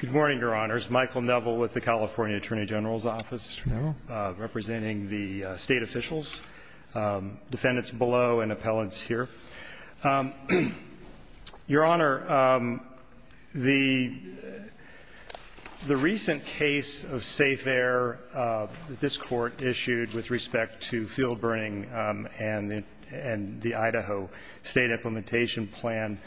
Good morning, Your Honors. Michael Neville with the California Attorney General's Office, representing the state officials, defendants below, and appellants here. Your Honor, the recent case of safe air that this Court issued with respect to fuel burning and the Idaho State Implementation Plan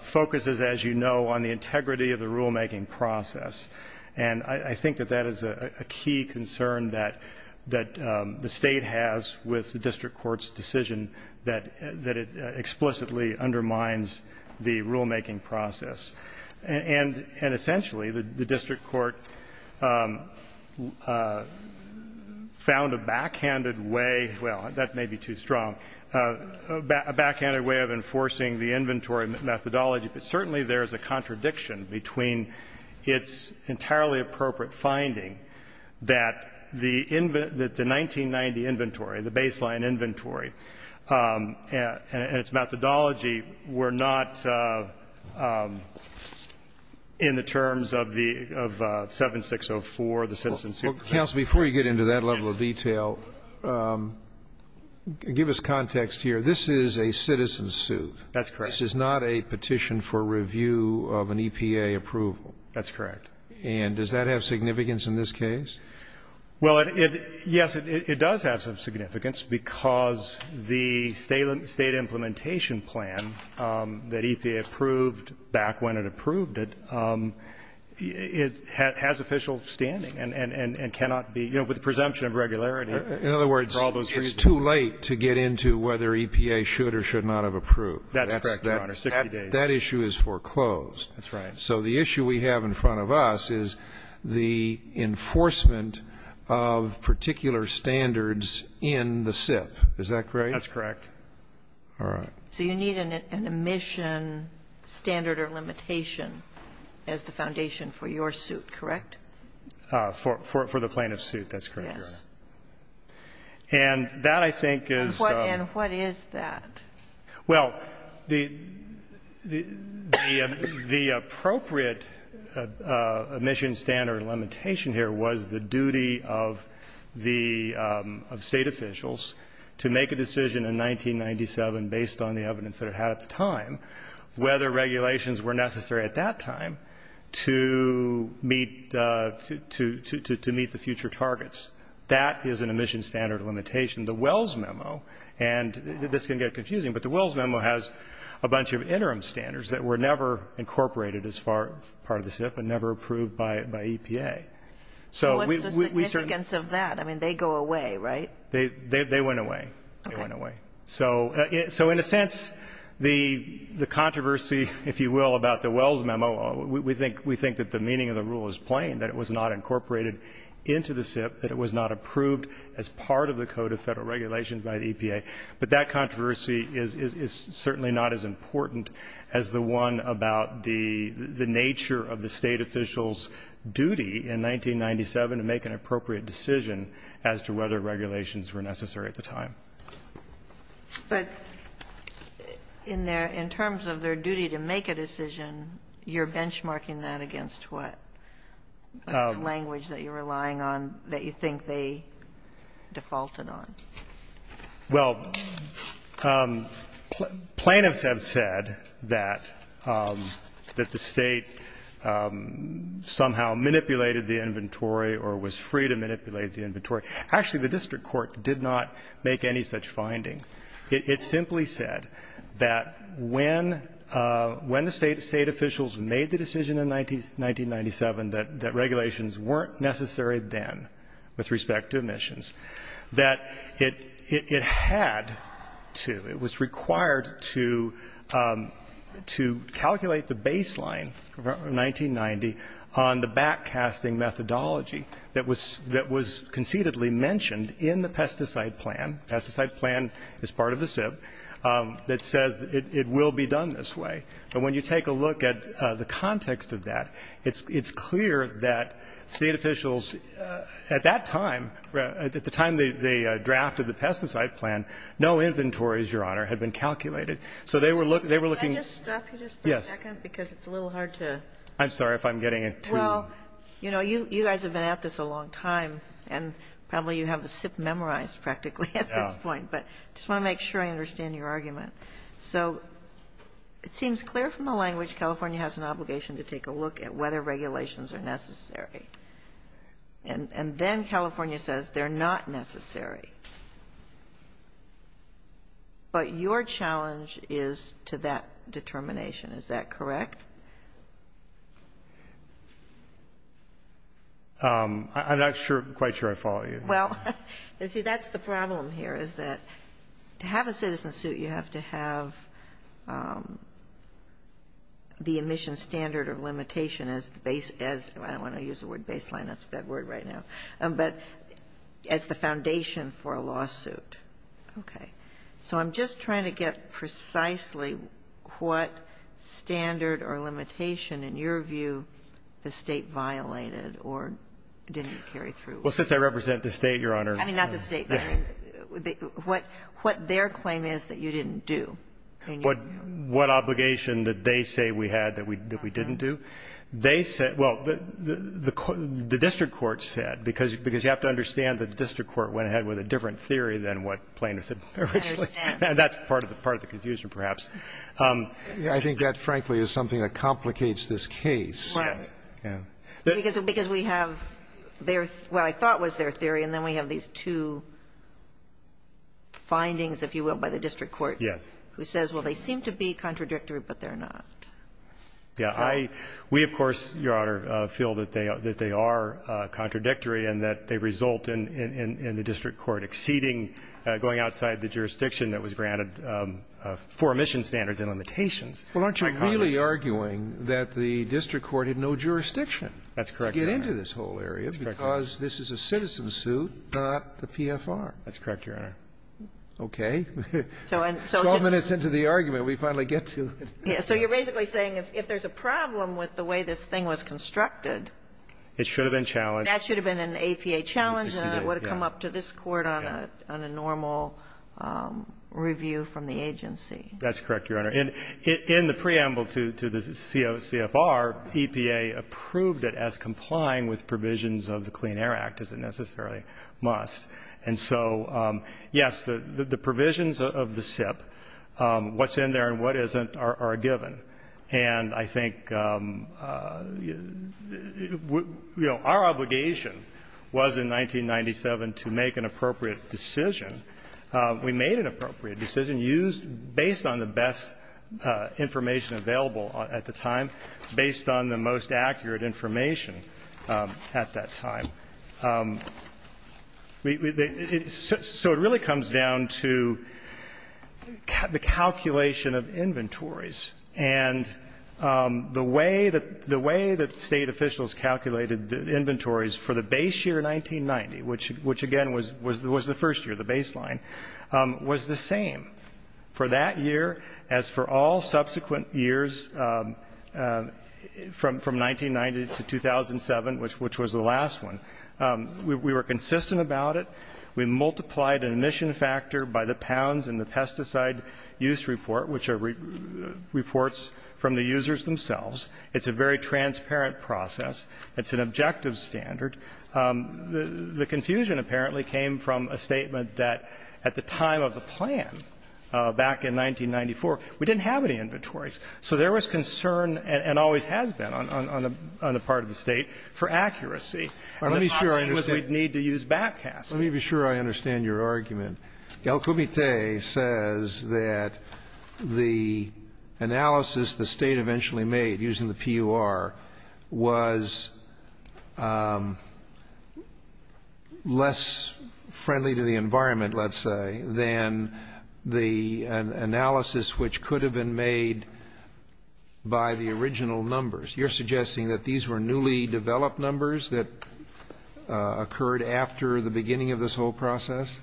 focuses, as you know, on the integrity of the rulemaking process. And I think that that is a key concern that the state has with the District Court's decision that it explicitly undermines the rulemaking process. And essentially, the District Court found a backhanded way, well, that may be too strong, a backhanded way of enforcing the inventory methodology. But certainly, there is a contradiction between its entirely appropriate finding that the 1990 inventory, the baseline inventory, and its methodology were not in the terms of the 7604, the citizen suit. Roberts. Counsel, before you get into that level of detail, give us context here. This is a citizen suit. That's correct. This is not a petition for review of an EPA approval. That's correct. And does that have significance in this case? Well, yes, it does have some significance, because the State Implementation Plan that EPA approved back when it approved it, it has official standing and cannot be, you know, with the presumption of regularity for all those reasons. In other words, it's too late to get into whether EPA should or should not have approved. That's correct, Your Honor, 60 days. That issue is foreclosed. That's right. So the issue we have in front of us is the enforcement of particular standards in the SIP. Is that correct? That's correct. All right. So you need an admission standard or limitation as the foundation for your suit, correct? For the plaintiff's suit. That's correct, Your Honor. Yes. And that, I think, is the What is that? Well, the appropriate admission standard or limitation here was the duty of the State officials to make a decision in 1997 based on the evidence that it had at the time, whether regulations were necessary at that time to meet the future targets. And so, you know, the SIP was not incorporated into the SIP as part of the code of federal regulation. The Wells Memo, and this can get confusing, but the Wells Memo has a bunch of interim standards that were never incorporated as part of the SIP and never approved by EPA. So we certainly So what's the significance of that? I mean, they go away, right? They went away. They went away. So in a sense, the controversy, if you will, about the Wells Memo, we think that the meaning of the rule is plain, that it was not incorporated into the SIP, that it was not approved as part of the code of federal regulation by the EPA. But that controversy is certainly not as important as the one about the nature of the State officials' duty in 1997 to make an appropriate decision as to whether regulations were necessary at the time. But in their – in terms of their duty to make a decision, you're benchmarking that against what? The language that you're relying on that you think they defaulted on. Well, plaintiffs have said that the State somehow manipulated the inventory or was free to manipulate the inventory. Actually, the district court did not make any such finding. It simply said that when the State officials made the decision in 1997 that regulations weren't necessary then with respect to emissions, that it had to, it was required to, to calculate the baseline from 1990 on the backcasting methodology that was conceded and explicitly mentioned in the pesticide plan. Pesticide plan is part of the SIP that says it will be done this way. But when you take a look at the context of that, it's clear that State officials at that time, at the time they drafted the pesticide plan, no inventories, Your Honor, had been calculated. So they were looking – Can I just stop you just for a second? Yes. Because it's a little hard to – I'm sorry if I'm getting too – Well, you know, you guys have been at this a long time, and probably you have the SIP memorized practically at this point. But I just want to make sure I understand your argument. So it seems clear from the language California has an obligation to take a look at whether regulations are necessary. And then California says they're not necessary. But your challenge is to that determination, is that correct? I'm not quite sure I follow you. Well, you see, that's the problem here is that to have a citizen suit, you have to have the emission standard or limitation as the – I don't want to use the word baseline. That's a bad word right now. But as the foundation for a lawsuit. Okay. So I'm just trying to get precisely what standard or limitation, in your view, the State violated or didn't carry through. Well, since I represent the State, Your Honor – I mean, not the State, but what their claim is that you didn't do. What obligation did they say we had that we didn't do? They said – well, the district court said, because you have to understand the district court went ahead with a different theory than what Plaintiff said originally. And that's part of the confusion, perhaps. I think that, frankly, is something that complicates this case. Right. Because we have their – what I thought was their theory, and then we have these two findings, if you will, by the district court who says, well, they seem to be contradictory, but they're not. Yeah. I – we, of course, Your Honor, feel that they are contradictory and that they result in the district court exceeding, going outside the jurisdiction that was granted for omission standards and limitations. Well, aren't you really arguing that the district court had no jurisdiction to get into this whole area because this is a citizen suit, not the PFR? That's correct, Your Honor. Okay. Twelve minutes into the argument, we finally get to it. So you're basically saying if there's a problem with the way this thing was constructed It should have been challenged. That should have been an APA challenge and it would have come up to this Court on a normal review from the agency. That's correct, Your Honor. In the preamble to the CFR, EPA approved it as complying with provisions of the Clean Air Act, as it necessarily must. And so, yes, the provisions of the SIP, what's in there and what isn't, are against the law given, and I think, you know, our obligation was in 1997 to make an appropriate decision. We made an appropriate decision based on the best information available at the time, based on the most accurate information at that time. So it really comes down to the calculation of inventories. And the way that state officials calculated inventories for the base year 1990, which again was the first year, the baseline, was the same for that year as for all subsequent years from 1990 to 2007, which was the last one. We were consistent about it. We multiplied an emission factor by the pounds in the pesticide use report, which are reports from the users themselves. It's a very transparent process. It's an objective standard. The confusion apparently came from a statement that at the time of the plan, back in 1994, we didn't have any inventories. So there was concern and always has been on the part of the State for accuracy. And the thought was we'd need to use backcasts. Let me be sure I understand your argument. El Comite says that the analysis the State eventually made using the PUR was less friendly to the environment, let's say, than the analysis which could have been made by the original numbers. You're suggesting that these were newly developed numbers that occurred after the beginning of this whole process?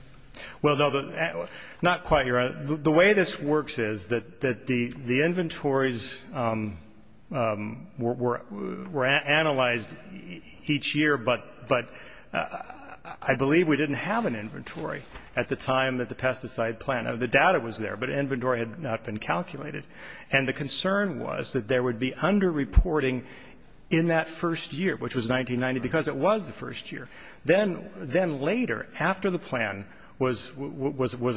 Well, no, not quite. The way this works is that the inventories were analyzed each year, but I believe we didn't have an inventory at the time that the pesticide plan or the data was there, but inventory had not been calculated. And the concern was that there would be underreporting in that first year, which was 1990, because it was the first year. Then later, after the plan was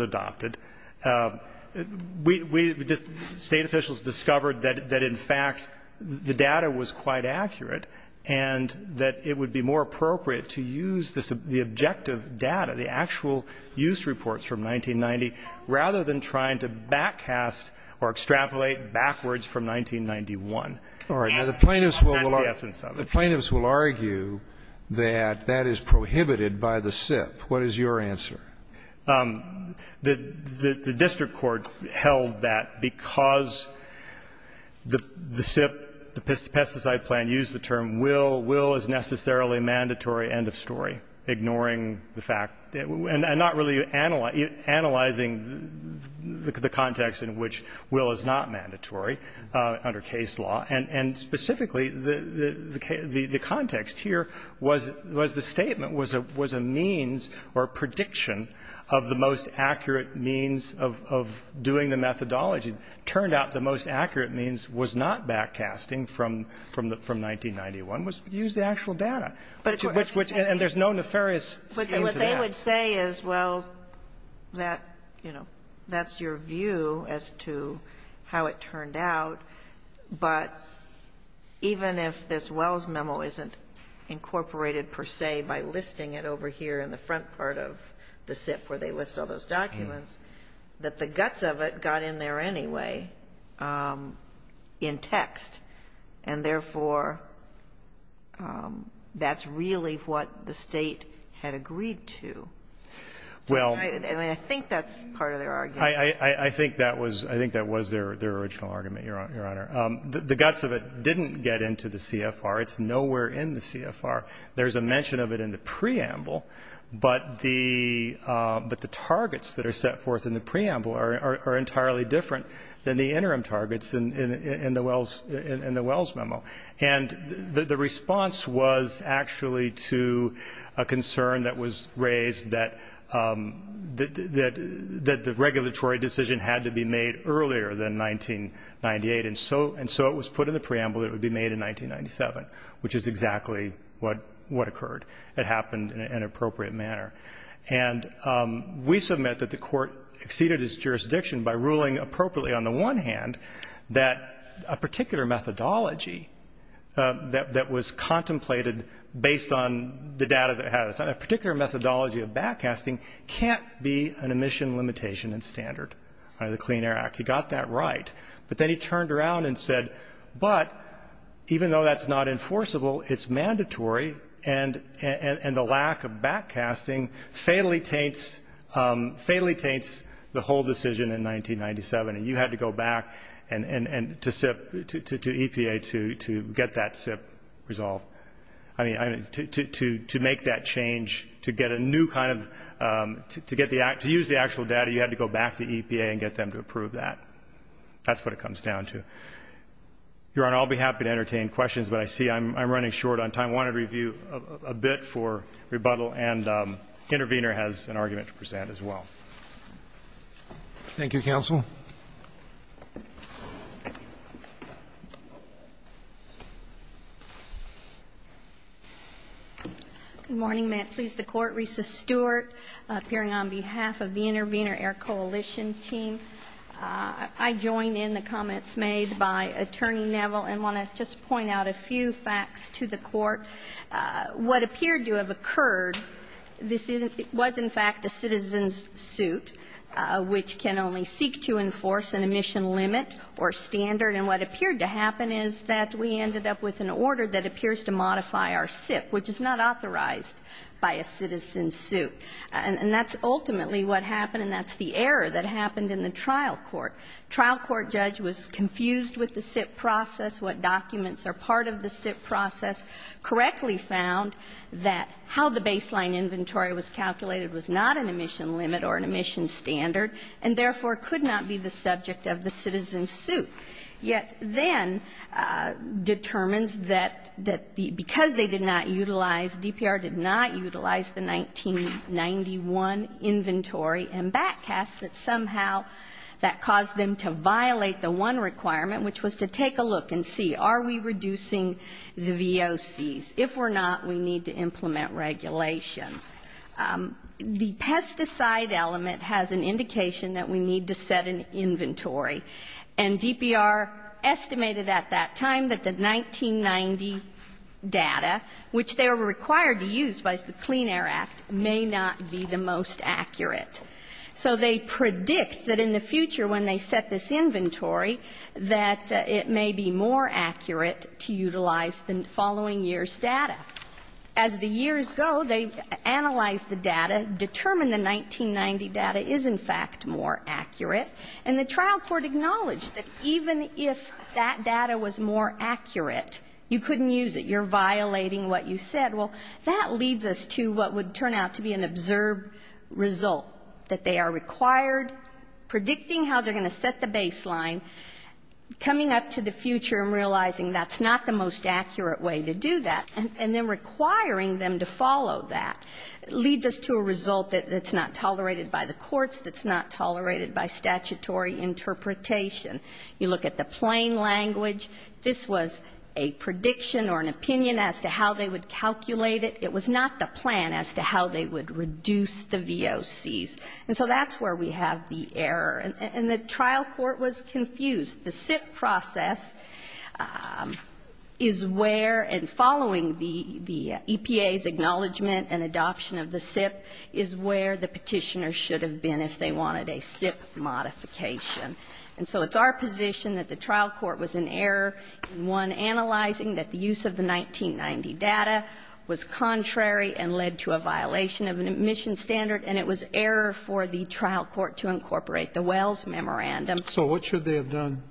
adopted, we, State officials discovered that in fact the more appropriate to use the objective data, the actual use reports from 1990, rather than trying to backcast or extrapolate backwards from 1991. That's the essence of it. The plaintiffs will argue that that is prohibited by the SIP. What is your answer? The district court held that because the SIP, the pesticide plan, used the term will. Will is necessarily a mandatory end of story, ignoring the fact, and not really analyzing the context in which will is not mandatory under case law. And specifically, the context here was the statement was a means or prediction of the most accurate means of doing the methodology. Turned out the most accurate means was not backcasting from 1991, was to use the actual data. And there's no nefarious scheme to that. But what they would say is, well, that, you know, that's your view as to how it turned out, but even if this Wells memo isn't incorporated, per se, by listing it over here in the front part of the SIP where they list all those documents, that the guts of it got in there anyway in text, and, therefore, that's really what the State had agreed to. Well. I mean, I think that's part of their argument. I think that was their original argument, Your Honor. The guts of it didn't get into the CFR. It's nowhere in the CFR. There's a mention of it in the preamble, but the targets that are set forth in the preamble are different than the interim targets in the Wells memo. And the response was actually to a concern that was raised that the regulatory decision had to be made earlier than 1998, and so it was put in the preamble that it would be made in 1997, which is exactly what occurred. It happened in an appropriate manner. And we submit that the Court exceeded its jurisdiction by ruling appropriately on the one hand that a particular methodology that was contemplated based on the data that it has, a particular methodology of backcasting can't be an emission limitation and standard under the Clean Air Act. He got that right, but then he turned around and said, but even though that's not enforceable, it's mandatory, and the lack of backcasting fatally taints the whole decision in 1997, and you had to go back to EPA to get that SIP resolved. I mean, to make that change, to get a new kind of, to use the actual data, you had to go back to EPA and get them to approve that. That's what it comes down to. Your Honor, I'll be happy to entertain questions, but I see I'm running short on time. I wanted to review a bit for rebuttal, and Intervenor has an argument to present as well. Thank you, counsel. Good morning. May it please the Court. Risa Stewart, appearing on behalf of the Intervenor Air Coalition team. I join in the comments made by Attorney Neville and want to just point out a few facts to the Court. What appeared to have occurred, this is, was in fact a citizen's suit, which can only seek to enforce an emission limit or standard, and what appeared to happen is that we ended up with an order that appears to modify our SIP, which is not authorized by a citizen's suit. And that's ultimately what happened, and that's the error that happened in the trial court. Trial court judge was confused with the SIP process, what documents are part of the SIP process, correctly found that how the baseline inventory was calculated was not an emission limit or an emission standard, and therefore could not be the subject of the citizen's suit, yet then determines that the, because they did not utilize, DPR did not utilize the 1991 inventory and backcast that somehow that caused them to violate the one requirement, which was to take a look and see, are we reducing the VOCs? If we're not, we need to implement regulations. The pesticide element has an indication that we need to set an inventory, and DPR estimated at that time that the 1990 data, which they were required to use by the Clean Air Act, may not be the most accurate. So they predict that in the future when they set this inventory, that it may be more accurate to utilize the following year's data. As the years go, they've analyzed the data, determined the 1990 data is in fact more accurate, and the trial court acknowledged that even if that data was more accurate, you couldn't use it. You're violating what you said. Well, that leads us to what would turn out to be an observed result, that they are required, predicting how they're going to set the baseline, coming up to the future and realizing that's not the most accurate way to do that, and then requiring them to follow that, leads us to a result that's not tolerated by the courts, that's not tolerated by statutory interpretation. You look at the plain language. This was a prediction or an opinion as to how they would calculate it. It was not the plan as to how they would reduce the VOCs. And so that's where we have the error. And the trial court was confused. The SIP process is where, and following the EPA's acknowledgment and adoption of the And so it's our position that the trial court was in error in, one, analyzing that the use of the 1990 data was contrary and led to a violation of an admission standard, and it was error for the trial court to incorporate the Wells Memorandum. So what should they have done?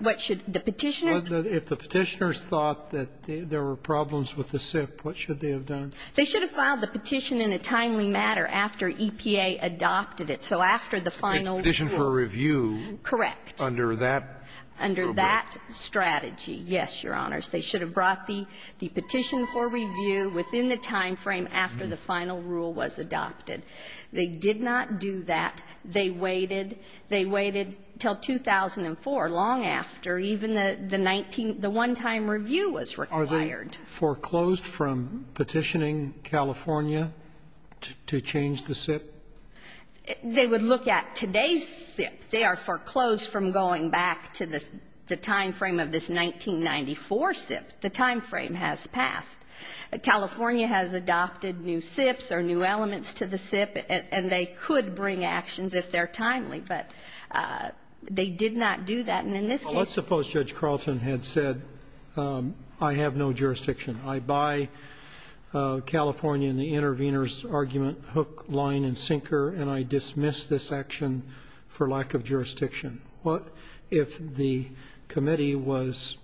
What should the Petitioners do? If the Petitioners thought that there were problems with the SIP, what should they have done? They should have filed the petition in a timely matter after EPA adopted it. So after the final rule. It's a petition for review. Correct. Under that program. Under that strategy, yes, Your Honors. They should have brought the petition for review within the time frame after the final rule was adopted. They did not do that. They waited. They waited until 2004, long after even the 19 the one-time review was required. Foreclosed from petitioning California to change the SIP? They would look at today's SIP. They are foreclosed from going back to the time frame of this 1994 SIP. The time frame has passed. California has adopted new SIPs or new elements to the SIP, and they could bring actions if they're timely. And in this case they did not. Well, let's suppose Judge Carlton had said, I have no jurisdiction. I buy California in the intervener's argument hook, line, and sinker, and I dismiss this action for lack of jurisdiction. What if the committee was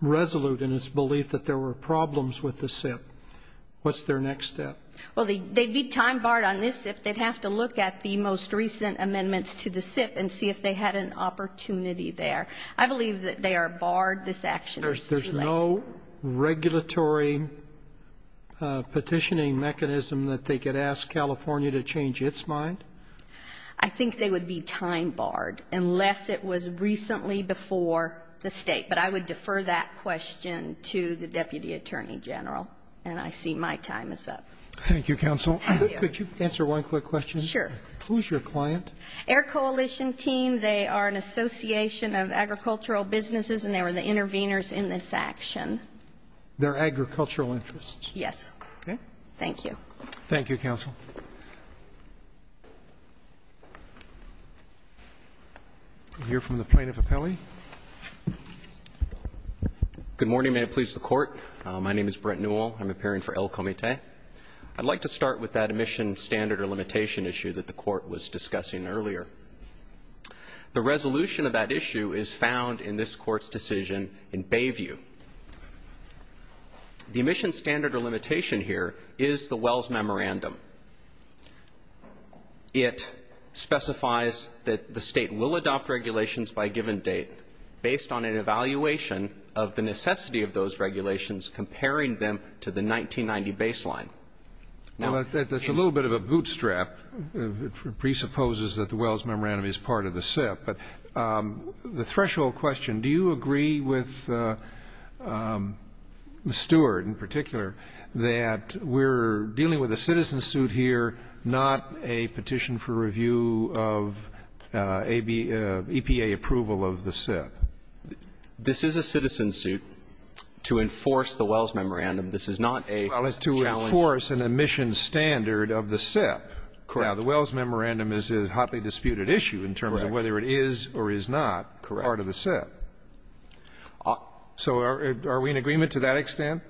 resolute in its belief that there were problems with the SIP? What's their next step? Well, they'd be time barred on this SIP. They'd have to look at the most recent amendments to the SIP and see if they had an opportunity there. I believe that they are barred. This action is too late. There's no regulatory petitioning mechanism that they could ask California to change its mind? I think they would be time barred, unless it was recently before the State. But I would defer that question to the Deputy Attorney General, and I see my time is up. Thank you, counsel. Thank you. Could you answer one quick question? Sure. Who's your client? Our coalition team. They are an association of agricultural businesses, and they were the interveners in this action. They're agricultural interests? Yes. Okay. Thank you. Thank you, counsel. We'll hear from the Plaintiff Appellee. Good morning. May it please the Court. My name is Brent Newell. I'm appearing for El Comité. I'd like to start with that admission standard or limitation issue that the Court was discussing earlier. The resolution of that issue is found in this Court's decision in Bayview. The admission standard or limitation here is the Wells Memorandum. It specifies that the State will adopt regulations by a given date based on an evaluation of the necessity of those regulations comparing them to the 1990 baseline. Well, that's a little bit of a bootstrap. It presupposes that the Wells Memorandum is part of the SIP. But the threshold question, do you agree with Stewart in particular that we're dealing with a citizen suit here, not a petition for review of EPA approval of the SIP? This is a citizen suit to enforce the Wells Memorandum. This is not a challenge to the SIP. Well, it's to enforce an admission standard of the SIP. Correct. Now, the Wells Memorandum is a hotly disputed issue in terms of whether it is or is not part of the SIP. Correct. So are we in agreement to that extent?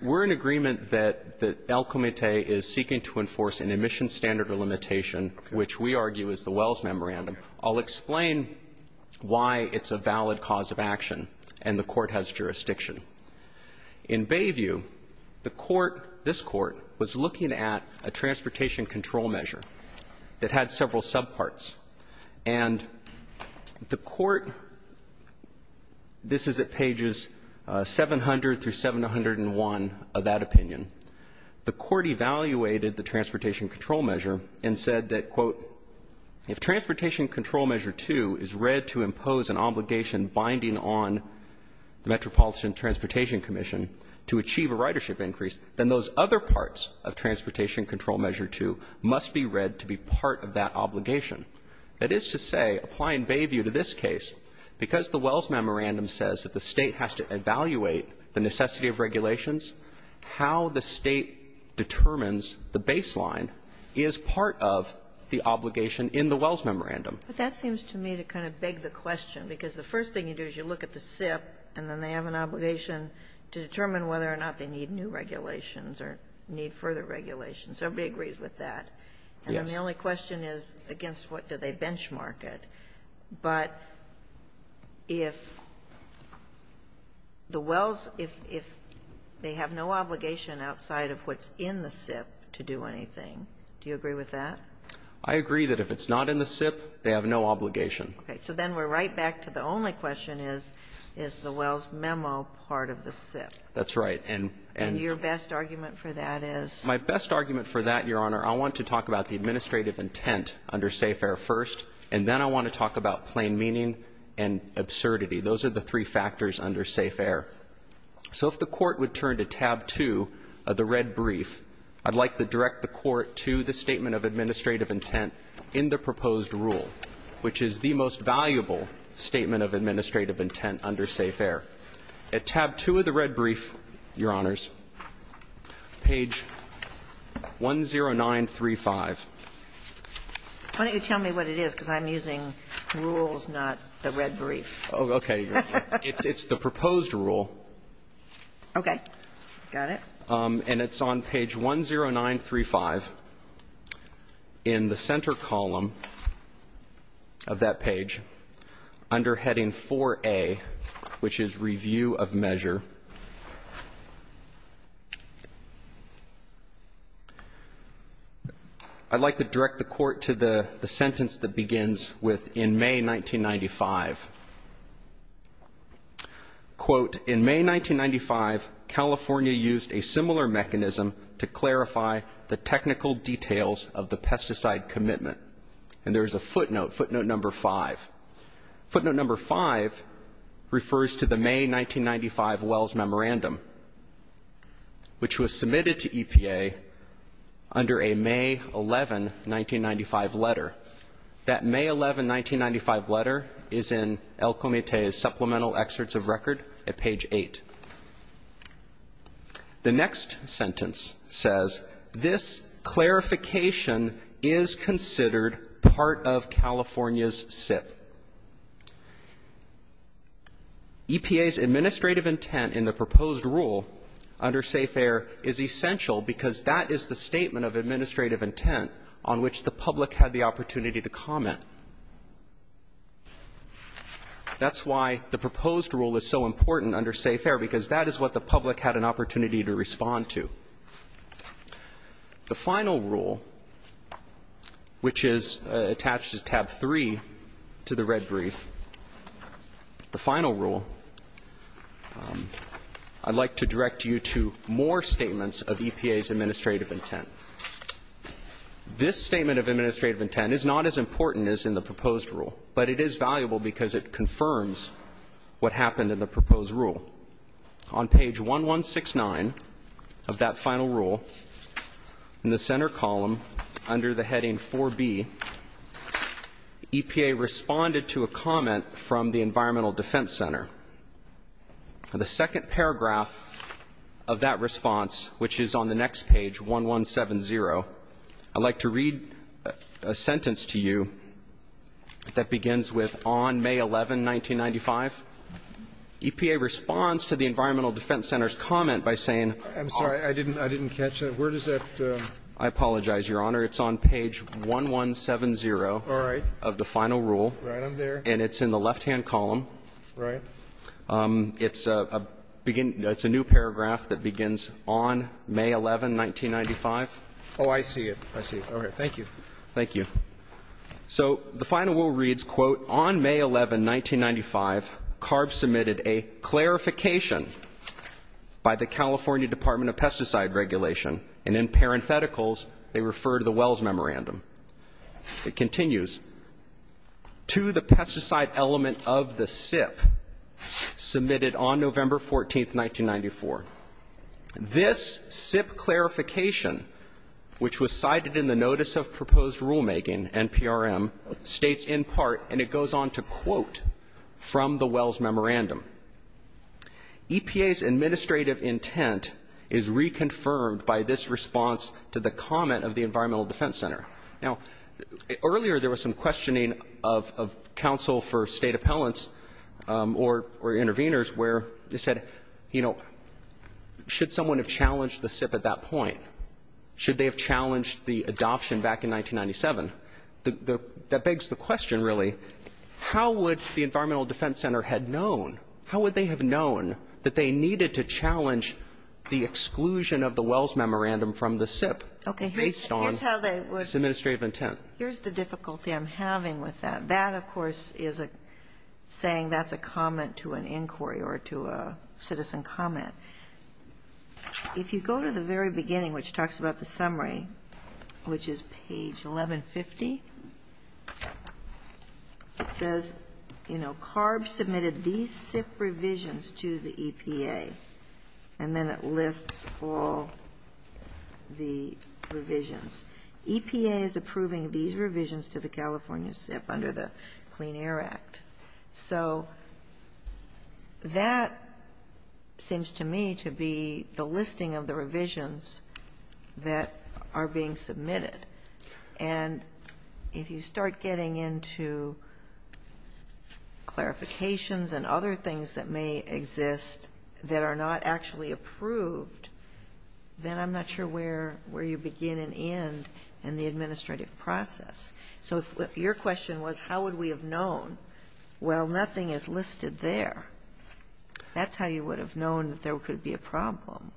We're in agreement that El Comité is seeking to enforce an admission standard or limitation, which we argue is the Wells Memorandum. I'll explain why it's a valid cause of action, and the Court has jurisdiction. In Bayview, the Court, this Court, was looking at a transportation control measure that had several subparts. And the Court, this is at pages 700 through 701 of that opinion, the Court evaluated the transportation control measure and said that, quote, if transportation control measure 2 is read to impose an obligation binding on the Metropolitan Transportation Commission to achieve a ridership increase, then those other parts of transportation control measure 2 must be read to be part of that obligation. That is to say, applying Bayview to this case, because the Wells Memorandum says that the State has to evaluate the necessity of regulations, how the State determines the baseline is part of the obligation in the Wells Memorandum. But that seems to me to kind of beg the question, because the first thing you do is you look at the SIP, and then they have an obligation to determine whether or not they need new regulations or need further regulations. Everybody agrees with that. And then the only question is, against what do they benchmark it? But if the Wells, if they have no obligation outside of what's in the SIP to do anything, do you agree with that? I agree that if it's not in the SIP, they have no obligation. Okay. So then we're right back to the only question is, is the Wells memo part of the SIP? That's right. And your best argument for that is? My best argument for that, Your Honor, I want to talk about the administrative intent under SAFARE first, and then I want to talk about plain meaning and absurdity. Those are the three factors under SAFARE. So if the Court would turn to tab 2 of the red brief, I'd like to direct the Court to the statement of administrative intent in the proposed rule, which is the most valuable statement of administrative intent under SAFARE. At tab 2 of the red brief, Your Honors, page 10935. Why don't you tell me what it is, because I'm using rules, not the red brief. Okay. It's the proposed rule. Okay. Got it. And it's on page 10935. In the center column of that page, under heading 4A, which is review of measure, I'd like to direct the Court to the sentence that begins with, in May 1995. Quote, in May 1995, California used a similar mechanism to clarify the technical details of the pesticide commitment. And there's a footnote, footnote number 5. Footnote number 5 refers to the May 1995 Wells Memorandum, which was submitted to EPA under a May 11, 1995 letter. That May 11, 1995 letter is in El Comité's supplemental excerpts of record at page 8. The next sentence says, this clarification is considered part of California's SIP. EPA's administrative intent in the proposed rule under SAFARE is essential because that is the statement of administrative intent on which the public had the opportunity to comment. That's why the proposed rule is so important under SAFARE, because that is what the public had an opportunity to respond to. The final rule, which is attached to tab 3 to the red brief, the final rule, I'd like to direct you to more statements of EPA's administrative intent. This statement of administrative intent is not as important as in the proposed rule, but it is valuable because it confirms what happened in the proposed rule. On page 1169 of that final rule, in the center column under the heading 4B, EPA responded to a comment from the Environmental Defense Center. The second paragraph of that response, which is on the next page, 1170, I'd like to read a sentence to you that begins with, on May 11, 1995, EPA responds to the Environmental Defense Center's comment by saying I'm sorry, I didn't catch that. Where does that? I apologize, Your Honor. It's on page 1170 of the final rule. All right. I'm there. And it's in the left-hand column. Right. It's a new paragraph that begins on May 11, 1995. Oh, I see it. I see it. All right. Thank you. Thank you. So the final rule reads, quote, on May 11, 1995, CARB submitted a clarification by the California Department of Pesticide Regulation. And in parentheticals, they refer to the Wells Memorandum. It continues, to the pesticide element of the SIP submitted on November 14, 1994. This SIP clarification, which was cited in the Notice of Proposed Rulemaking, NPRM, states in part, and it goes on to quote from the Wells Memorandum, EPA's administrative intent is reconfirmed by this response to the comment of the Environmental Defense Center. Now, earlier there was some questioning of counsel for state appellants or intervenors where they said, you know, should someone have challenged the SIP at that point? Should they have challenged the adoption back in 1997? That begs the question, really, how would the Environmental Defense Center had known, how would they have known that they needed to challenge the exclusion of the Wells Memorandum from the SIP based on this administrative intent? Here's the difficulty I'm having with that. That, of course, is a saying that's a comment to an inquiry or to a citizen comment. If you go to the very beginning, which talks about the summary, which is page 1150, it says, you know, CARB submitted these SIP revisions to the EPA, and then it lists all the revisions. EPA is approving these revisions to the California SIP under the Clean Air Act. So that seems to me to be the listing of the revisions that are being submitted. And if you start getting into clarifications and other things that may exist that are not actually approved, then I'm not sure where you begin and end in the administrative process. So if your question was how would we have known, well, nothing is listed there, that's how you would have known that there could be a problem.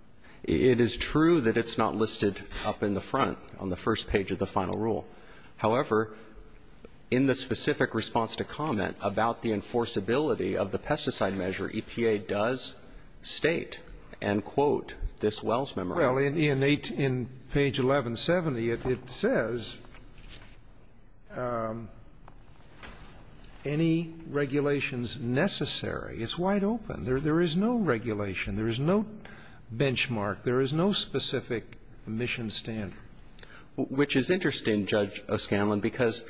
It is true that it's not listed up in the front on the first page of the final rule. However, in the specific response to comment about the enforceability of the pesticide measure, EPA does state and quote this Wells Memorandum. Well, in page 1170, it says, any regulations necessary, it's wide open. There is no regulation. There is no benchmark. There is no specific mission standard. Which is interesting, Judge O'Scanlan, because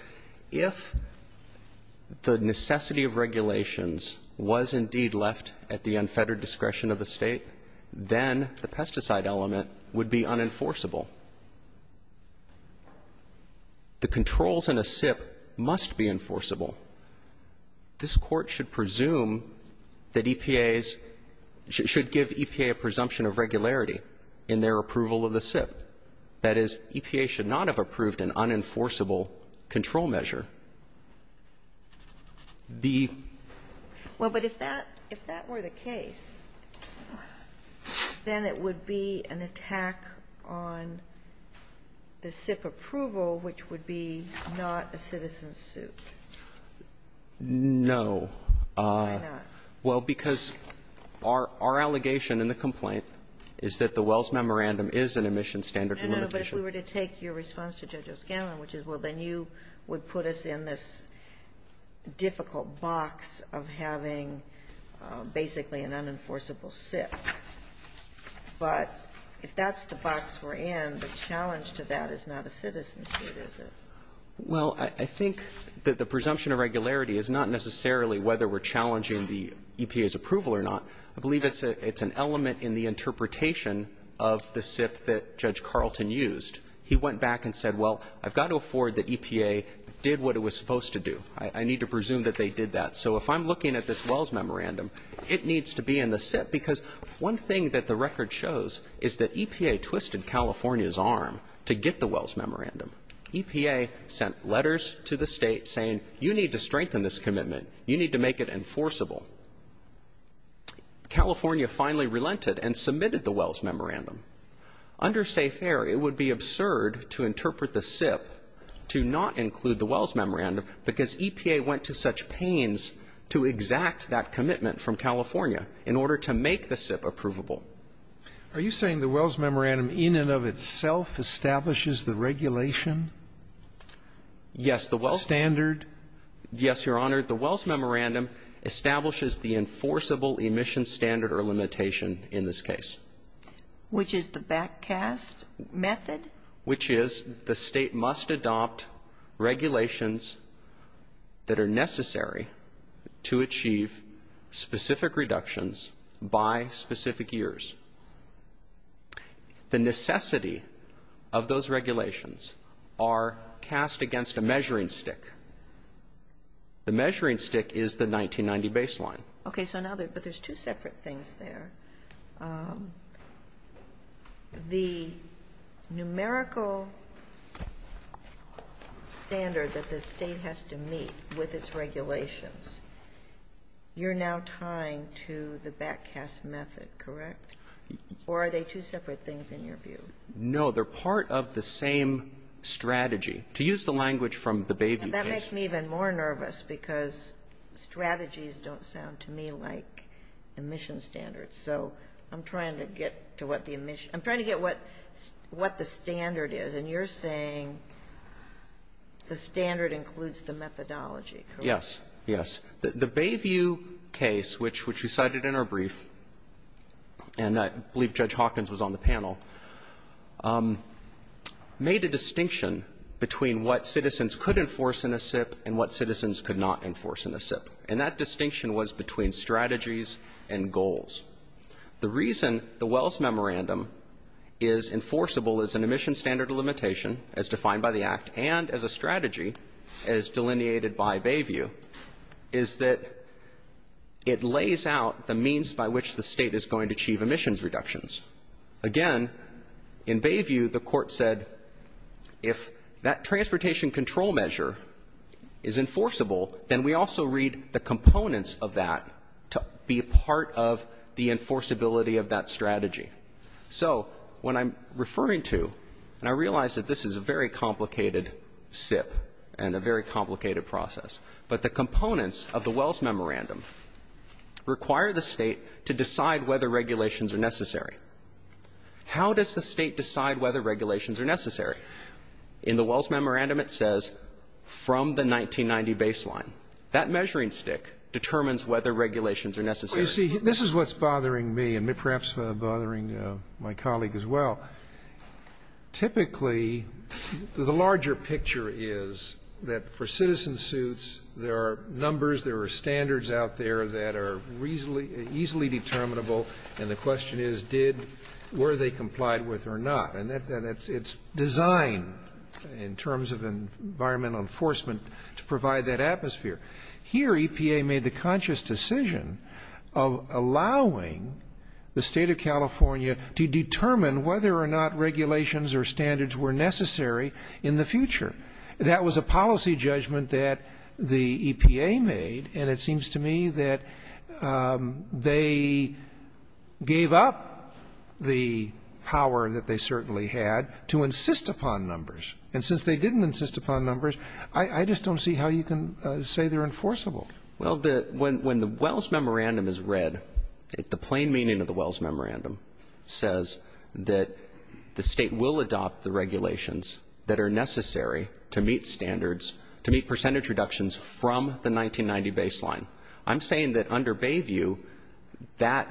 if the necessity of regulations was indeed left at the unfettered discretion of the State, then the pesticide element would be unenforceable. The controls in a SIP must be enforceable. This Court should presume that EPA's – should give EPA a presumption of regularity in their approval of the SIP. That is, EPA should not have approved an unenforceable control measure. The – Well, but if that – if that were the case, then it would be an attack on the SIP approval, which would be not a citizen suit. No. Why not? Well, because our allegation in the complaint is that the Wells Memorandum is an emission standard limitation. No, no. But if we were to take your response to Judge O'Scanlan, which is, well, then you would put us in this difficult box of having basically an unenforceable SIP. But if that's the box we're in, the challenge to that is not a citizen suit, is it? Well, I think that the presumption of regularity is not necessarily whether we're challenging the EPA's approval or not. I believe it's an element in the interpretation of the SIP that Judge Carlton used. He went back and said, well, I've got to afford that EPA did what it was supposed to do. I need to presume that they did that. So if I'm looking at this Wells Memorandum, it needs to be in the SIP. Because one thing that the record shows is that EPA twisted California's arm to get the Wells Memorandum. EPA sent letters to the state saying, you need to strengthen this commitment. You need to make it enforceable. California finally relented and submitted the Wells Memorandum. Under SAFE Air, it would be absurd to interpret the SIP to not include the Wells Memorandum because EPA went to such pains to exact that commitment from California in order to make the SIP approvable. Are you saying the Wells Memorandum in and of itself establishes the regulation? Yes. The standard? Yes, Your Honor. The Wells Memorandum establishes the enforceable emission standard or limitation in this case. Which is the back cast method? Which is the state must adopt regulations that are necessary to achieve specific reductions by specific years. The necessity of those regulations are cast against a measuring stick. The measuring stick is the 1990 baseline. Okay, so now there's two separate things there. The numerical standard that the state has to meet with its regulations. You're now tying to the back cast method, correct? Or are they two separate things in your view? No, they're part of the same strategy. To use the language from the Bayview case. And that makes me even more nervous because strategies don't sound to me like emission standards. So I'm trying to get to what the emission ‑‑ I'm trying to get what the standard is. And you're saying the standard includes the methodology, correct? Yes. Yes. The Bayview case, which we cited in our brief, and I believe Judge Hawkins was on the panel, made a distinction between what citizens could enforce in a SIP and what citizens could not enforce in a SIP. And that distinction was between strategies and goals. The reason the Wells Memorandum is enforceable as an emission standard or limitation as defined by the Act and as a strategy as delineated by Bayview is that it lays out the means by which the State is going to achieve emissions reductions. Again, in Bayview, the Court said if that transportation control measure is enforceable, then we also read the components of that to be part of the enforceability of that strategy. So when I'm referring to, and I realize that this is a very complicated SIP and a very complicated process, but the components of the Wells Memorandum require the State to decide whether regulations are necessary. How does the State decide whether regulations are necessary? In the Wells Memorandum, it says from the 1990 baseline. That measuring stick determines whether regulations are necessary. You see, this is what's bothering me and perhaps bothering my colleague as well. Typically, the larger picture is that for citizen suits, there are numbers, there are standards out there that are reasonably, easily determinable, and the question is, did, were they complied with or not? And it's designed in terms of environmental enforcement to provide that atmosphere. Here, EPA made the conscious decision of allowing the State of California to determine whether or not regulations or standards were necessary in the future. That was a policy judgment that the EPA made, and it seems to me that they gave up the power that they certainly had to insist upon numbers. And since they didn't insist upon numbers, I just don't see how you can say they're enforceable. Well, when the Wells Memorandum is read, the plain meaning of the Wells Memorandum says that the State will adopt the regulations that are necessary to meet standards, to meet percentage reductions from the 1990 baseline. I'm saying that under Bayview, that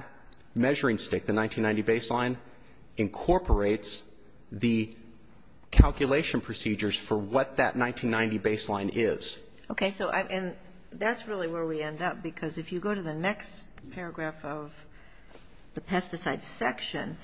measuring stick, the 1990 baseline, incorporates the calculation procedures for what that 1990 baseline is. Okay. So, and that's really where we end up, because if you go to the next paragraph of the pesticide section,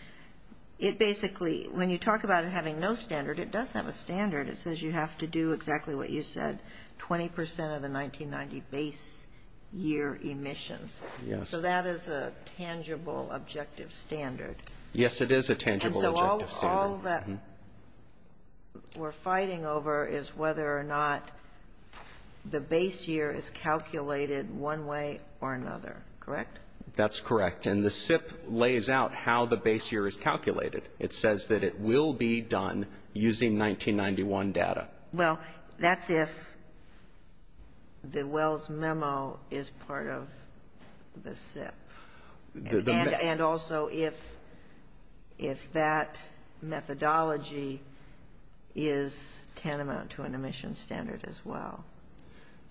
it basically, when you talk about it having no standard, it does have a standard. It says you have to do exactly what you said, 20 percent of the 1990 base year emissions. Yes. So that is a tangible objective standard. Yes, it is a tangible objective standard. All that we're fighting over is whether or not the base year is calculated one way or another, correct? That's correct. And the SIP lays out how the base year is calculated. It says that it will be done using 1991 data. Well, that's if the Wells Memo is part of the SIP. And also if that methodology is tantamount to an emission standard as well.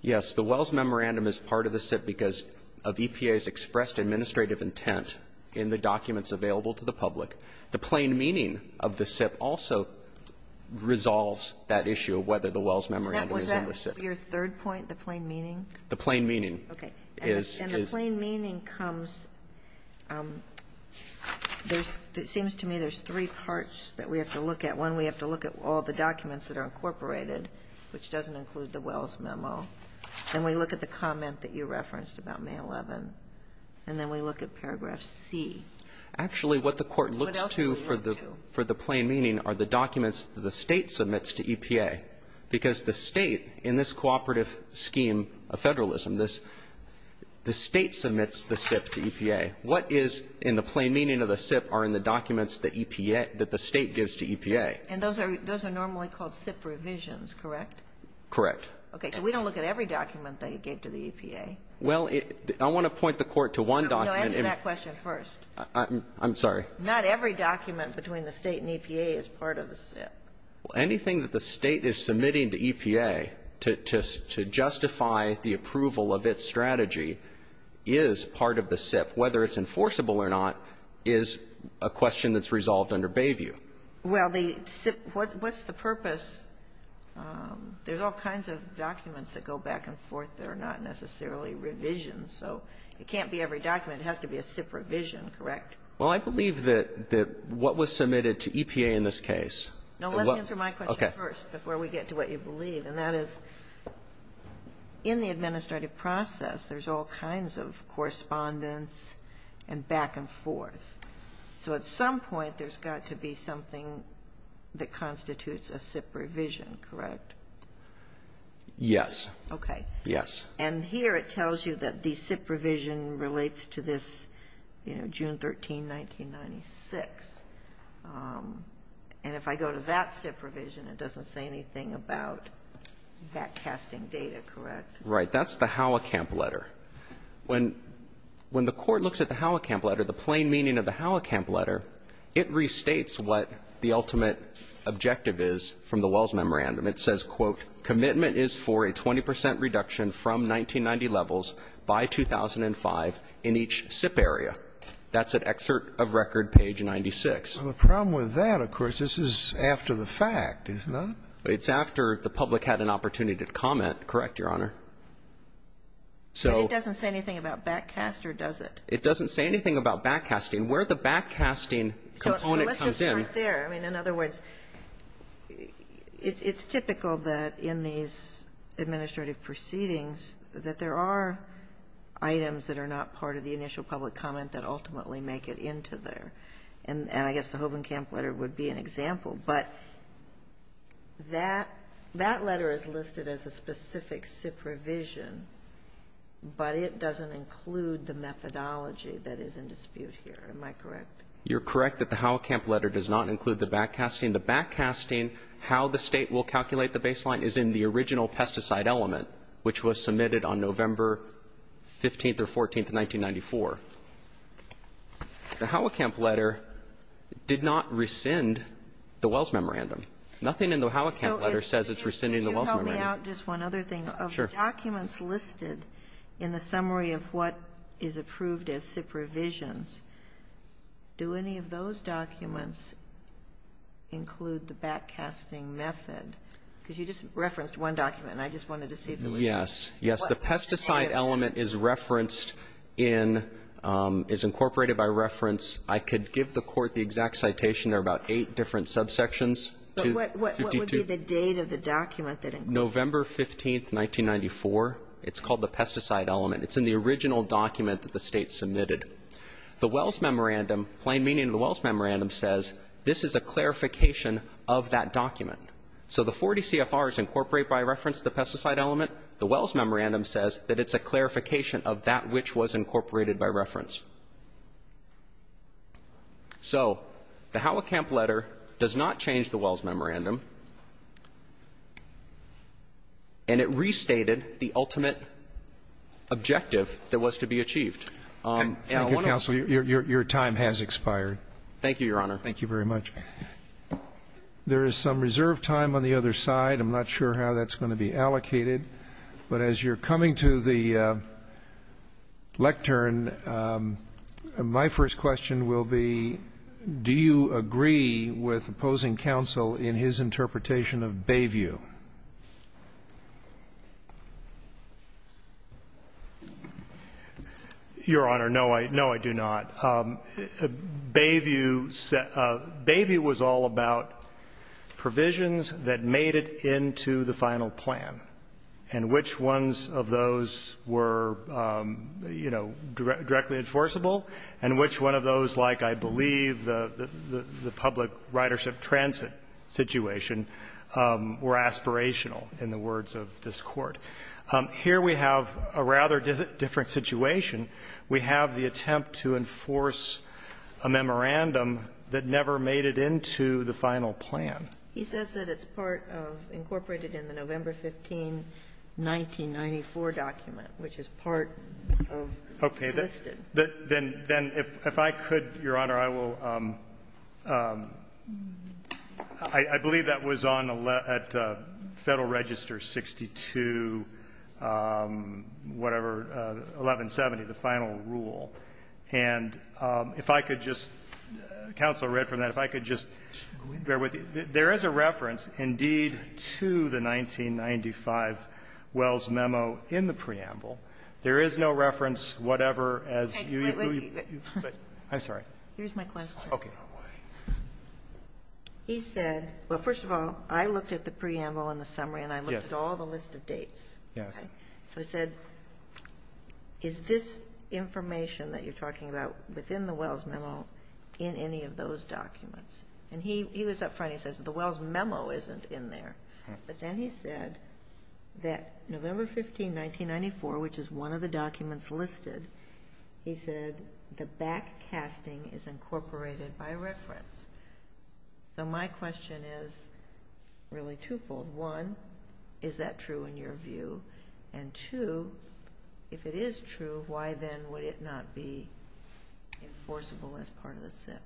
Yes. The Wells Memorandum is part of the SIP because of EPA's expressed administrative intent in the documents available to the public. The plain meaning of the SIP also resolves that issue of whether the Wells Memorandum is in the SIP. Was that your third point, the plain meaning? The plain meaning is the SIP. The plain meaning comes – it seems to me there's three parts that we have to look at. One, we have to look at all the documents that are incorporated, which doesn't include the Wells Memo. Then we look at the comment that you referenced about May 11th, and then we look at paragraph C. Actually, what the Court looks to for the plain meaning are the documents that the State submits to EPA, because the State, in this cooperative scheme of federalism, the State submits the SIP to EPA. What is in the plain meaning of the SIP are in the documents that EPA – that the State gives to EPA. And those are normally called SIP revisions, correct? Correct. Okay. So we don't look at every document they gave to the EPA. Well, I want to point the Court to one document. No, answer that question first. I'm sorry. Not every document between the State and EPA is part of the SIP. Well, anything that the State is submitting to EPA to justify the approval of its strategy is part of the SIP. Whether it's enforceable or not is a question that's resolved under Bayview. Well, the SIP – what's the purpose? There's all kinds of documents that go back and forth that are not necessarily revisions. So it can't be every document. It has to be a SIP revision, correct? Well, I believe that what was submitted to EPA in this case. No, let me answer my question first before we get to what you believe. And that is, in the administrative process, there's all kinds of correspondence and back and forth. So at some point, there's got to be something that constitutes a SIP revision, correct? Yes. Okay. Yes. And here it tells you that the SIP revision relates to this June 13, 1996. And if I go to that SIP revision, it doesn't say anything about that casting data, correct? Right. That's the Howe Camp letter. When the Court looks at the Howe Camp letter, the plain meaning of the Howe Camp letter, it restates what the ultimate objective is from the Wells Memorandum. It says, quote, Commitment is for a 20 percent reduction from 1990 levels by 2005 in each SIP area. That's at excerpt of record page 96. Well, the problem with that, of course, this is after the fact, isn't it? It's after the public had an opportunity to comment, correct, Your Honor. So. But it doesn't say anything about back cast or does it? It doesn't say anything about back casting. Where the back casting component comes in. So let's just start there. I mean, in other words, it's typical that in these administrative proceedings that there are items that are not part of the initial public comment that ultimately make it into there. And I guess the Howe Camp letter would be an example. But that letter is listed as a specific SIP revision. But it doesn't include the methodology that is in dispute here. Am I correct? You're correct that the Howe Camp letter does not include the back casting. The back casting, how the State will calculate the baseline, is in the original pesticide element, which was submitted on November 15th or 14th, 1994. The Howe Camp letter did not rescind the Wells memorandum. Nothing in the Howe Camp letter says it's rescinding the Wells memorandum. So if you help me out, just one other thing. Sure. Of the documents listed in the summary of what is approved as SIP revisions, do any of those documents include the back casting method? Because you just referenced one document, and I just wanted to see if there was one. Yes. Yes. The pesticide element is referenced in, is incorporated by reference. I could give the Court the exact citation. There are about eight different subsections. But what would be the date of the document that includes it? November 15th, 1994. It's called the pesticide element. It's in the original document that the State submitted. The Wells memorandum, plain meaning of the Wells memorandum, says this is a clarification of that document. So the 40 CFRs incorporate by reference the pesticide element. The Wells memorandum says that it's a clarification of that which was incorporated by reference. So the Howe Camp letter does not change the Wells memorandum. And it restated the ultimate objective that was to be achieved. Thank you, Counsel. Your time has expired. Thank you, Your Honor. Thank you very much. There is some reserve time on the other side. I'm not sure how that's going to be allocated. But as you're coming to the lectern, my first question will be, do you agree with opposing counsel in his interpretation of Bayview? Your Honor, no, I do not. Bayview was all about provisions that made it into the final plan. And which ones of those were, you know, directly enforceable, and which one of those, like, I believe, the public ridership transit situation, were aspirational in the words of this Court. Here we have a rather different situation. We have the attempt to enforce a memorandum that never made it into the final plan. He says that it's part of, incorporated in the November 15, 1994 document, which is part of the listed. Okay. Then if I could, Your Honor, I will, I believe that was on at Federal Register 62, whatever, 1170, the final rule. And if I could just, counsel read from that. If I could just bear with you. There is a reference, indeed, to the 1995 Wells memo in the preamble. There is no reference, whatever, as you. Wait, wait. I'm sorry. Here's my question. Okay. He said, well, first of all, I looked at the preamble and the summary and I looked at all the list of dates. Yes. Okay. So he said, is this information that you're talking about within the Wells memo in any of those documents? And he was up front. He says the Wells memo isn't in there. Okay. But then he said that November 15, 1994, which is one of the documents listed, he said the back casting is incorporated by reference. So my question is really twofold. One, is that true in your view? And two, if it is true, why then would it not be enforceable as part of the SIP?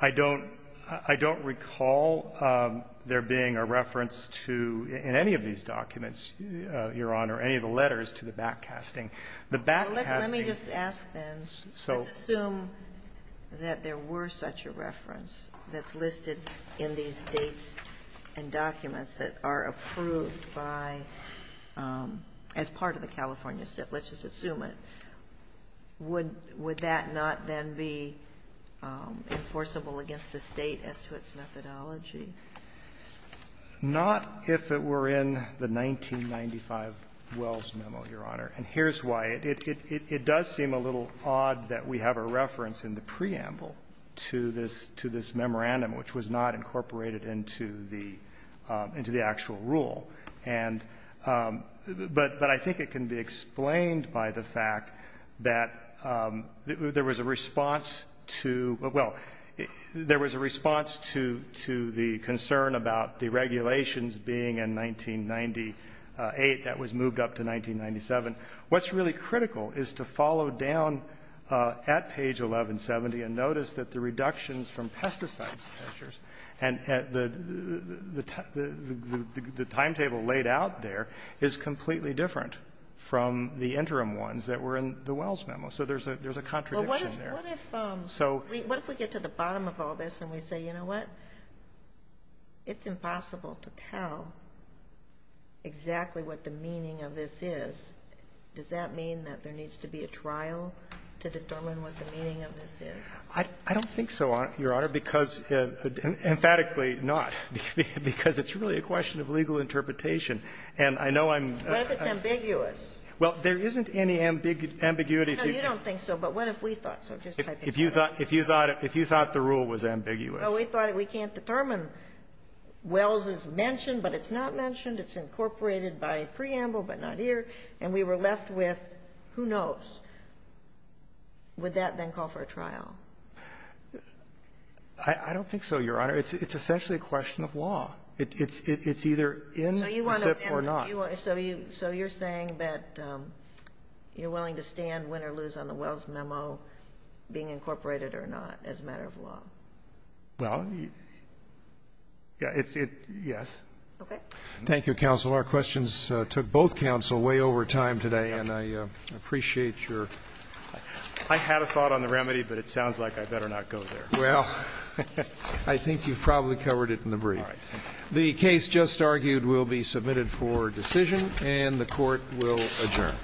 I don't recall there being a reference to, in any of these documents, Your Honor, any of the letters to the back casting. Well, let me just ask then. Let's assume that there were such a reference that's listed in these dates and documents that are approved by, as part of the California SIP. Let's just assume it. Would that not then be enforceable against the State as to its methodology? Not if it were in the 1995 Wells memo, Your Honor. And here's why. It does seem a little odd that we have a reference in the preamble to this memorandum, which was not incorporated into the actual rule. And, but I think it can be explained by the fact that there was a response to, well, there was a response to the concern about the regulations being in 1998 that was moved up to 1997. What's really critical is to follow down at page 1170 and notice that the reductions from pesticides measures and the timetable laid out there is completely different from the interim ones that were in the Wells memo. So there's a contradiction there. Well, what if we get to the bottom of all this and we say, you know what, it's impossible to tell exactly what the meaning of this is. Does that mean that there needs to be a trial to determine what the meaning of this is? I don't think so, Your Honor, because, emphatically not, because it's really a question of legal interpretation. And I know I'm What if it's ambiguous? Well, there isn't any ambiguity. No, you don't think so. But what if we thought so? If you thought the rule was ambiguous. Well, we thought we can't determine. Wells is mentioned, but it's not mentioned. It's incorporated by preamble, but not here. And we were left with who knows. Would that then call for a trial? I don't think so, Your Honor. It's essentially a question of law. It's either in the SIPP or not. So you're saying that you're willing to stand, win, or lose on the Wells memo being incorporated or not as a matter of law? Well, yes. Okay. Thank you, counsel. Our questions took both counsel way over time today, and I appreciate your I had a thought on the remedy, but it sounds like I better not go there. Well, I think you've probably covered it in the brief. All right. The case just argued will be submitted for decision, and the Court will adjourn.